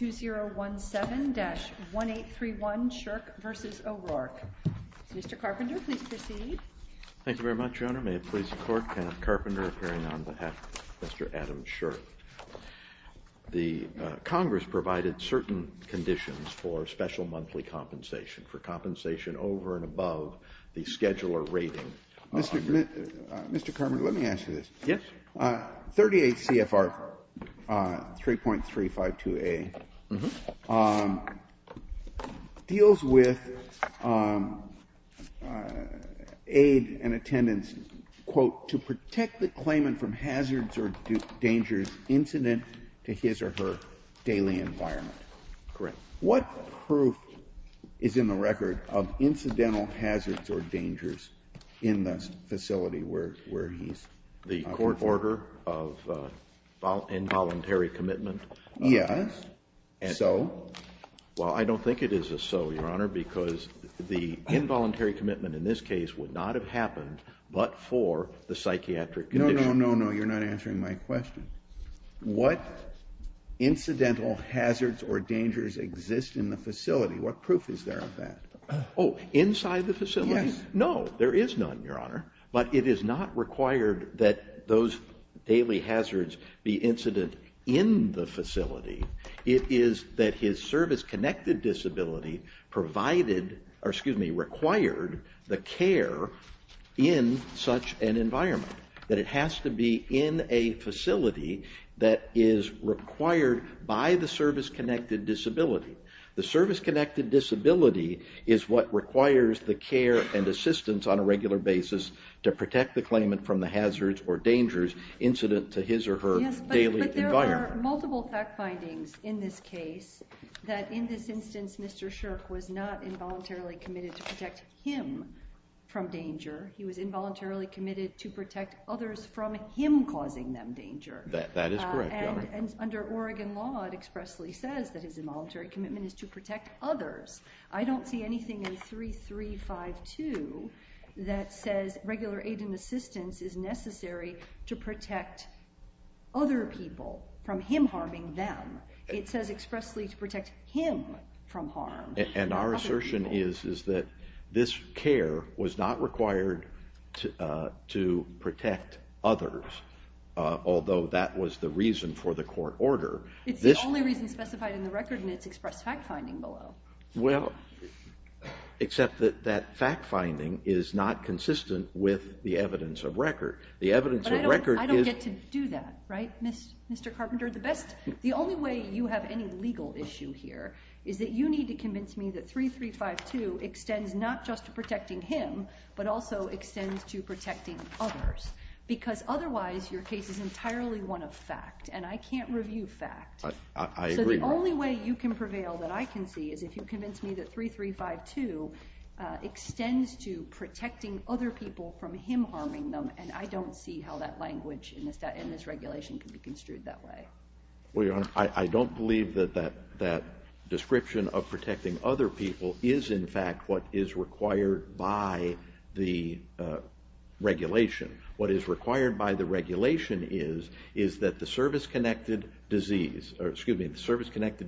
Mr. Carpenter, may it please the Court, Kenneth Carpenter appearing on behalf of Mr. Adam Shirk. The Congress provided certain conditions for special monthly compensation, for compensation over and above the scheduler rating. Mr. Carpenter, let me ask you this. Yes. 38 CFR 3.352A deals with aid and attendance, quote, to protect the claimant from hazards or dangers incident to his or her daily environment. Correct. What proof is in the record of incidental hazards or dangers in the facility where he's operating? The court order of involuntary commitment? Yes. So? Well, I don't think it is a so, Your Honor, because the involuntary commitment in this case would not have happened but for the psychiatric condition. No, no, no, no. You're not answering my question. What incidental hazards or dangers exist in the facility? What proof is there of that? Oh, inside the facility? Yes. No, there is none, Your Honor. But it is not required that those daily hazards be incident in the facility. It is that his service-connected disability provided, or excuse me, required the care in such an environment. That it has to be in a facility that is required by the service-connected disability. The service-connected disability is what requires the care and assistance on a regular basis to protect the claimant from the hazards or dangers incident to his or her daily environment. Yes, but there are multiple fact findings in this case that in this instance, Mr. Shirk was not involuntarily committed to protect him from danger. He was involuntarily committed to protect others from him causing them danger. That is correct, Your Honor. Under Oregon law, it expressly says that his involuntary commitment is to protect others. I don't see anything in 3352 that says regular aid and assistance is necessary to protect other people from him harming them. It says expressly to protect him from harm. And our assertion is that this care was not required to protect others, although that was the reason for the court order. It's the only reason specified in the record, and it's expressed fact finding below. Well, except that that fact finding is not consistent with the evidence of record. The evidence of record is. But I don't get to do that, right, Mr. Carpenter? The only way you have any legal issue here is that you need to convince me that 3352 extends not just to protecting him, but also extends to protecting others. Because otherwise, your case is entirely one of fact. And I can't review fact. I agree. So the only way you can prevail that I can see is if you convince me that 3352 extends to protecting other people from him harming them. And I don't see how that language in this regulation can be construed that way. Well, Your Honor, I don't believe that that description of protecting other people is, in fact, what is required by the regulation. What is required by the regulation is that the service-connected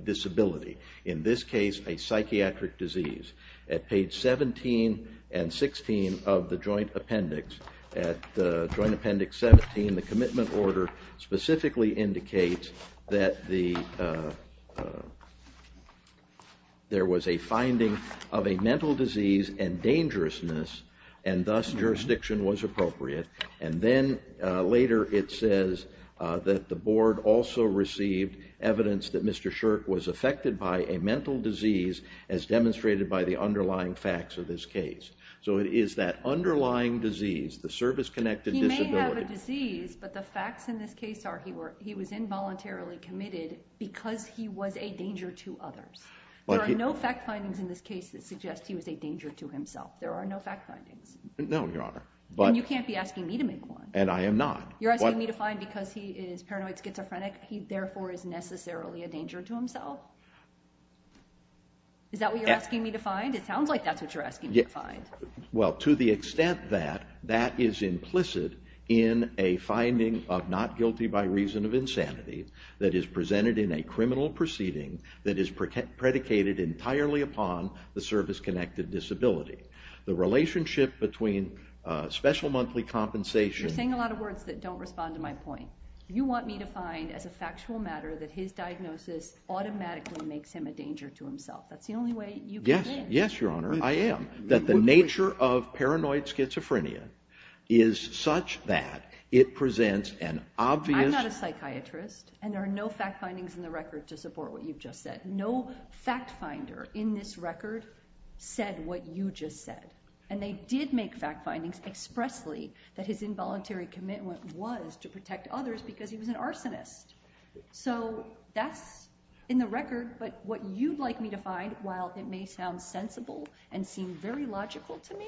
disability, in this case, a psychiatric disease, at page 17 and 16 of the joint appendix, at joint appendix 17, the commitment order specifically indicates that there was a finding of a mental disease and dangerousness. And thus, jurisdiction was appropriate. And then later, it says that the board also received evidence that Mr. Shirk was affected by a mental disease, as demonstrated by the underlying facts of this case. So it is that underlying disease, the service-connected disability. He may have a disease, but the facts in this case are he was involuntarily committed because he was a danger to others. There are no fact findings in this case that suggest he was a danger to himself. There are no fact findings. No, Your Honor. But you can't be asking me to make one. And I am not. You're asking me to find because he is paranoid schizophrenic, he therefore is necessarily a danger to himself? Is that what you're asking me to find? It sounds like that's what you're asking me to find. Well, to the extent that that is implicit in a finding of not guilty by reason of insanity that is presented in a criminal proceeding that is predicated entirely upon the service-connected disability. The relationship between special monthly compensation. You're saying a lot of words that don't respond to my point. You want me to find, as a factual matter, that his diagnosis automatically makes him a danger to himself. That's the only way you can win. Yes, Your Honor, I am. That the nature of paranoid schizophrenia is such that it presents an obvious. I'm not a psychiatrist. And there are no fact findings in the record to support what you've just said. No fact finder in this record said what you just said. And they did make fact findings expressly that his involuntary commitment was to protect others because he was an arsonist. So that's in the record. But what you'd like me to find, while it may sound sensible and seem very logical to me,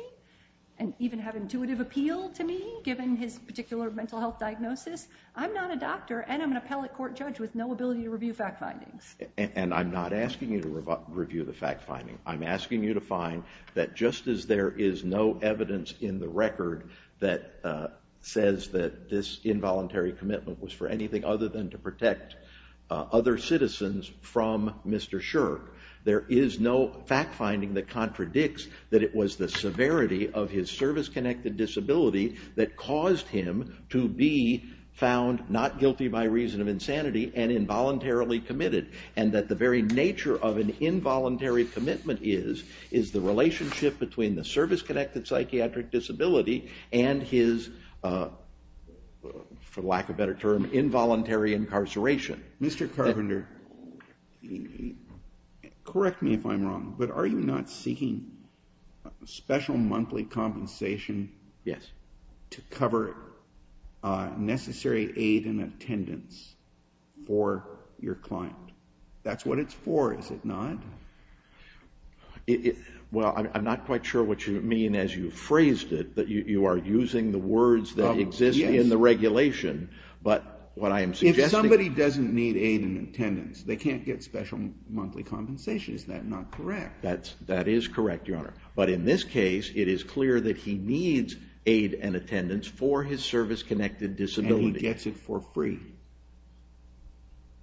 and even have intuitive appeal to me, given his particular mental health diagnosis, I'm not a doctor and I'm an appellate court judge with no ability to review fact findings. And I'm not asking you to review the fact finding. I'm asking you to find that just as there is no evidence in the record that says that this involuntary commitment was for anything other than to protect other citizens from Mr. Karpenter. There is no fact finding that contradicts that it was the severity of his service-connected disability that caused him to be found not guilty by reason of insanity and involuntarily committed. And that the very nature of an involuntary commitment is the relationship between the service-connected psychiatric disability and his, for lack of a better term, involuntary incarceration. Mr. Karpenter, correct me if I'm wrong, but are you not seeking special monthly compensation to cover necessary aid and attendance for your client? That's what it's for, is it not? Well, I'm not quite sure what you mean as you phrased it, that you are using the words that exist in the regulation. But what I am suggesting is that- If somebody doesn't need aid and attendance, they can't get special monthly compensation. Is that not correct? That is correct, Your Honor. But in this case, it is clear that he needs aid and attendance for his service-connected disability. And he gets it for free?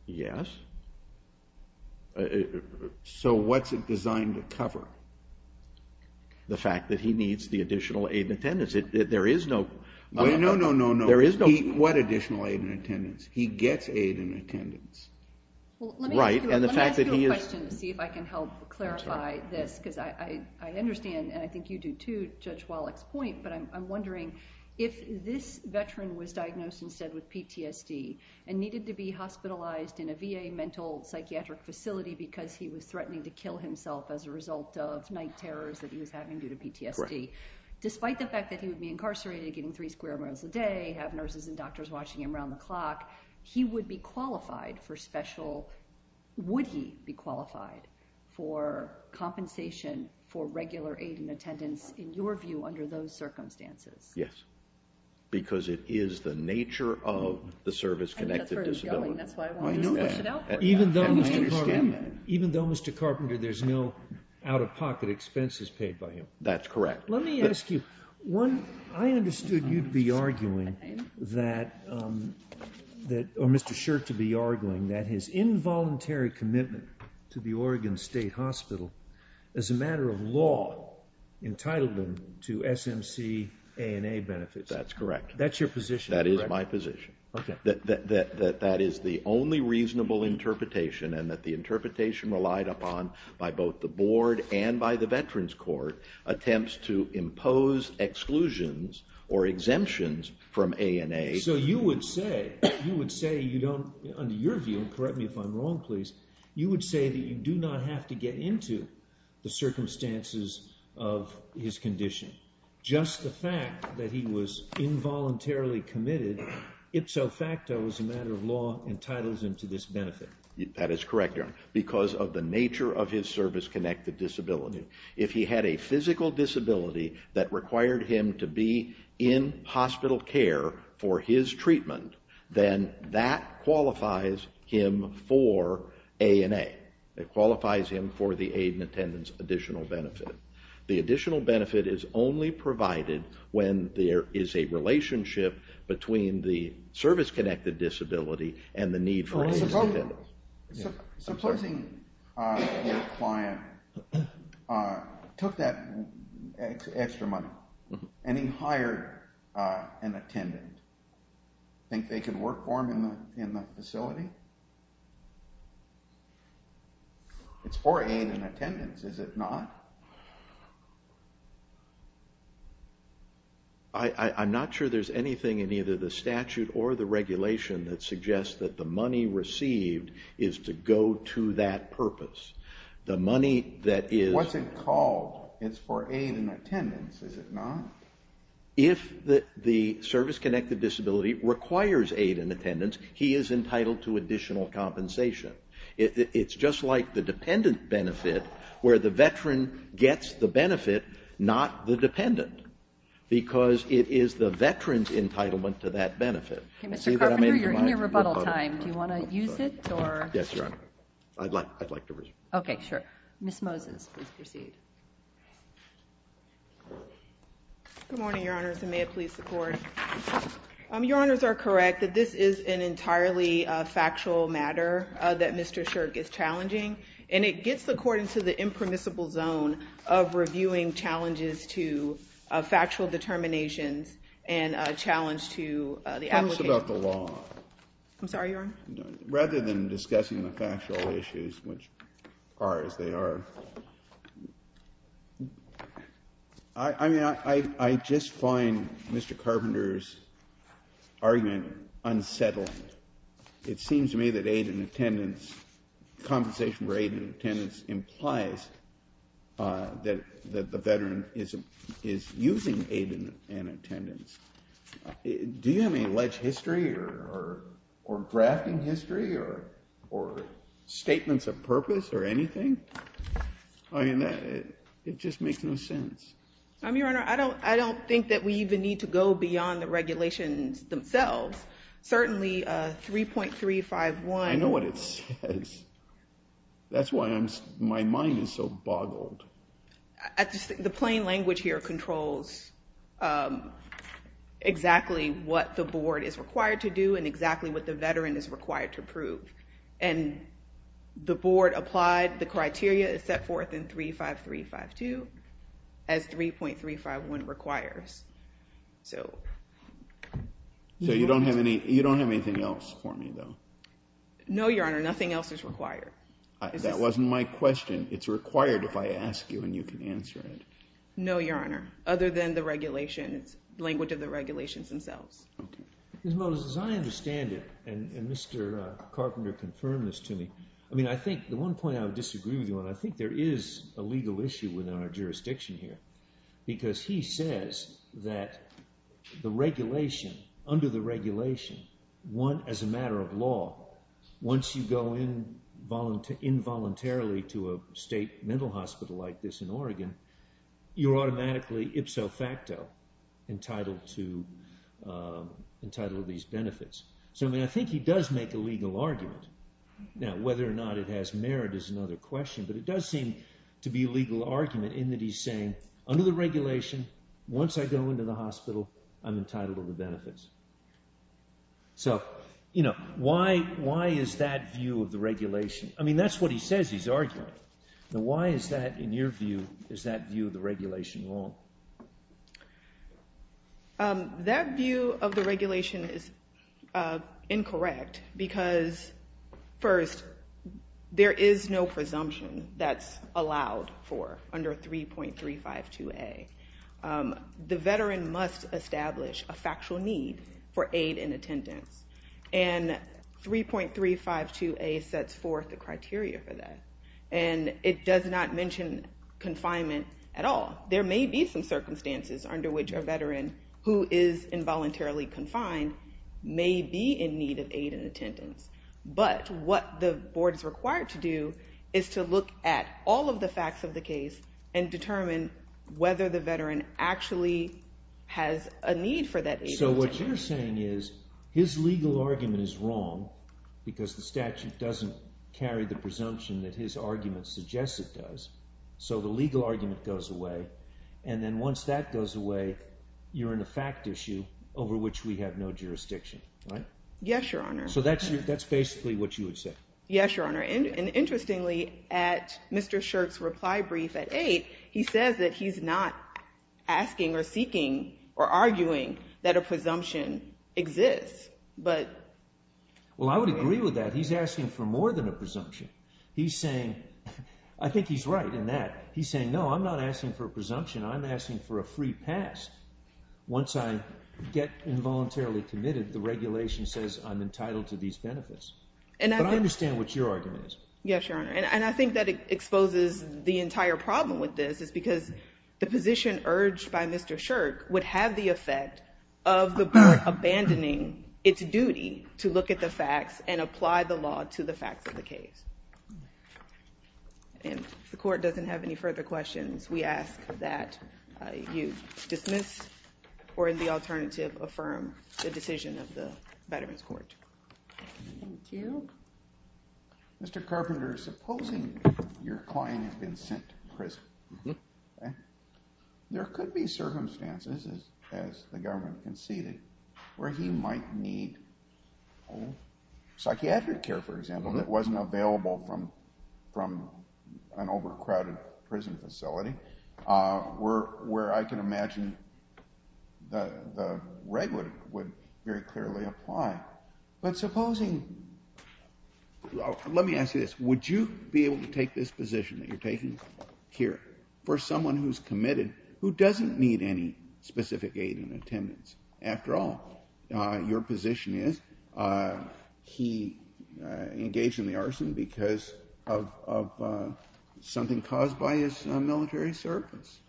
Yes. So what's it designed to cover? The fact that he needs the additional aid and attendance. There is no- No, no, no, no. There is no- What additional aid and attendance? He gets aid and attendance. Right, and the fact that he is- Let me ask you a question to see if I can help clarify this. Because I understand, and I think you do too, Judge Wallach's point, but I'm wondering if this veteran was diagnosed instead with PTSD and needed to be hospitalized in a VA mental psychiatric facility because he was threatening to kill himself as a result of night terrors that he was having due to PTSD. Despite the fact that he would be incarcerated, getting three square miles a day, have nurses and doctors watching him around the clock, he would be qualified for special- would he be qualified for compensation for regular aid and attendance, in your view, under those circumstances? Yes, because it is the nature of the service-connected disability. That's why I wanted to push it out for you. I understand that. Even though, Mr. Carpenter, there's no out-of-pocket expenses paid by him. That's correct. Let me ask you, I understood you'd be arguing that, or Mr. Shirt to be arguing, that his involuntary commitment to the Oregon State Hospital, as a matter of law, entitled him to SMC A&A benefits. That's correct. That's your position. That is my position. That is the only reasonable interpretation, and that the interpretation relied upon by both the board and by the Veterans Court, attempts to impose exclusions or exemptions from A&A. So you would say, you would say you don't, under your view, correct me if I'm wrong, please, you would say that you do not have to get into the circumstances of his condition. Just the fact that he was involuntarily committed, ipso facto, as a matter of law, entitles him to this benefit. That is correct, Your Honor, because of the nature of his service-connected disability. If he had a physical disability that required him to be in hospital care for his treatment, then that qualifies him for A&A. It qualifies him for the aid and attendance additional benefit. The additional benefit is only provided when there is a relationship between the service-connected disability and the need for aid and attendance. So supposing your client took that extra money and he hired an attendant. Think they could work for him in the facility? It's for aid and attendance, is it not? I'm not sure there's anything in either the statute or the regulation that suggests that the money received is to go to that purpose. The money that is- What's it called? It's for aid and attendance, is it not? If the service-connected disability requires aid and attendance, he is entitled to additional compensation. It's just like the dependent benefit, where the veteran gets the benefit, not the dependent, because it is the veteran's entitlement to that benefit. OK, Mr. Carpenter, you're in your rebuttal time. Do you want to use it, or? Yes, Your Honor. I'd like to use it. OK, sure. Ms. Moses, please proceed. Good morning, Your Honors, and may it please the Court. Your Honors are correct that this is an entirely factual matter that Mr. Shirk is challenging, and it gets the Court into the impermissible zone of reviewing challenges to factual determinations and a challenge to the application. Tell us about the law. I'm sorry, Your Honor? Rather than discussing the factual issues, which are as they are, I just find Mr. Carpenter's argument unsettling. It seems to me that aid and attendance, compensation for aid and attendance, implies that the veteran is using aid and attendance. Do you have any alleged history, or drafting history, or statements of purpose, or anything? I mean, it just makes no sense. I mean, Your Honor, I don't think that we even need to go beyond the regulations themselves. Certainly, 3.351. I know what it says. That's why my mind is so boggled. The plain language here controls exactly what the board is required to do, and exactly what the veteran is required to prove. And the board applied the criteria it set forth in 3.5352 as 3.351 requires. So you don't have anything else for me, though? No, Your Honor, nothing else is required. That wasn't my question. It's required if I ask you, and you can answer it. No, Your Honor, other than the regulations, language of the regulations themselves. Ms. Moses, as I understand it, and Mr. Carpenter confirmed this to me, I mean, I think the one point I would disagree with you on, I think there is a legal issue within our jurisdiction here. Because he says that the regulation, under the regulation, as a matter of law, once you go in involuntarily to a state mental hospital like this in Oregon, you're automatically ipso facto entitled to these benefits. So I mean, I think he does make a legal argument. Now, whether or not it has merit is another question. But it does seem to be a legal argument in that he's saying, under the regulation, once I go into the hospital, I'm entitled to the benefits. So why is that view of the regulation? I mean, that's what he says he's arguing. Now, why is that, in your view, is that view of the regulation wrong? That view of the regulation is incorrect. Because first, there is no presumption that's allowed for under 3.352A. The veteran must establish a factual need for aid and attendance. And 3.352A sets forth the criteria for that. And it does not mention confinement at all. There may be some circumstances under which a veteran who is involuntarily confined may be in need of aid and attendance. But what the board is required to do is to look at all of the facts of the case and determine whether the veteran actually has a need for that aid and attendance. So what you're saying is his legal argument is wrong because the statute doesn't carry the presumption that his argument suggests it does. So the legal argument goes away. And then once that goes away, you're in a fact issue over which we have no jurisdiction, right? Yes, Your Honor. So that's basically what you would say. Yes, Your Honor. And interestingly, at Mr. Shirk's reply brief at 8, he says that he's not asking or seeking or arguing that a presumption exists. Well, I would agree with that. He's asking for more than a presumption. I think he's right in that. He's saying, no, I'm not asking for a presumption. I'm asking for a free pass. Once I get involuntarily committed, the regulation says I'm entitled to these benefits. But I understand what your argument is. Yes, Your Honor. And I think that exposes the entire problem with this is because the position urged by Mr. Shirk would have the effect of the court abandoning its duty to look at the facts and apply the law to the facts of the case. And if the court doesn't have any further questions, we ask that you dismiss or, in the alternative, affirm the decision of the Veterans Court. Thank you. Mr. Carpenter, supposing your client has been sent to prison, there could be circumstances, as the government conceded, where he might need psychiatric care, for example, that wasn't available from an overcrowded prison facility, where I can imagine the reg would very clearly apply. But supposing, let me ask you this, would you be able to take this position that you're taking here for someone who's committed, who doesn't need any specific aid and attendance? After all, your position is he engaged in the arson because of something caused by his military service.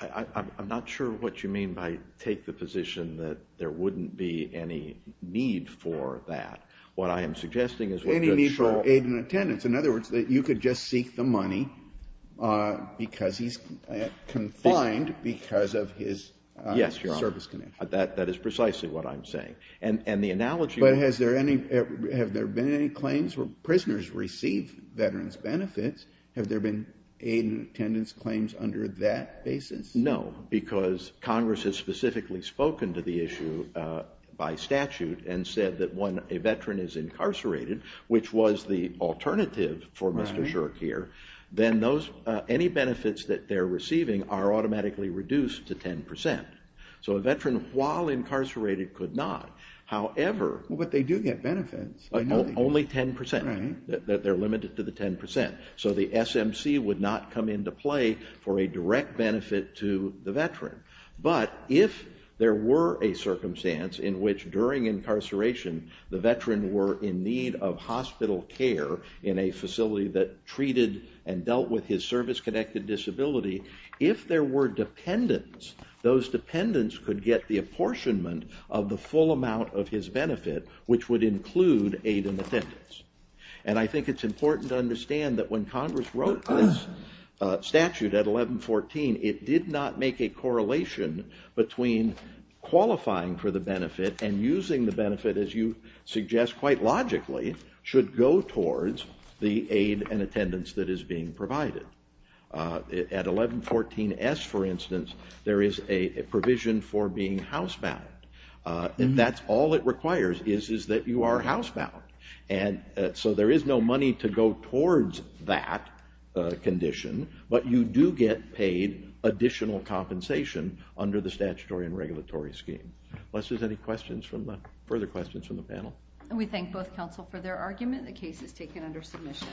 I'm not sure what you mean by take the position that there wouldn't be any need for that. What I am suggesting is what you're sure of. Any need for aid and attendance. In other words, that you could just seek the money because he's confined because of his service connection. Yes, Your Honor, that is precisely what I'm saying. And the analogy would be. But have there been any claims where prisoners receive veterans' benefits? Have there been aid and attendance claims under that basis? No, because Congress has specifically spoken to the issue by statute and said that when a veteran is incarcerated, which was the alternative for Mr. Scherk here, then any benefits that they're receiving are automatically reduced to 10%. So a veteran, while incarcerated, could not. However. But they do get benefits. Only 10%. They're limited to the 10%. So the SMC would not come into play for a direct benefit to the veteran. But if there were a circumstance in which during incarceration the veteran were in need of hospital care in a facility that treated and dealt with his service-connected disability, if there were dependents, those dependents could get the apportionment of the full amount of his benefit, which would include aid and attendance. And I think it's important to understand that when Congress wrote this statute at 1114, it did not make a correlation between qualifying for the benefit and using the benefit, as you suggest quite logically, should go towards the aid and attendance that is being provided. At 1114-S, for instance, there is a provision for being housebound. And that's all it requires, is that you are housebound. And so there is no money to go towards that condition. But you do get paid additional compensation under the statutory and regulatory scheme. Unless there's any further questions from the panel. And we thank both counsel for their argument. The case is taken under submission.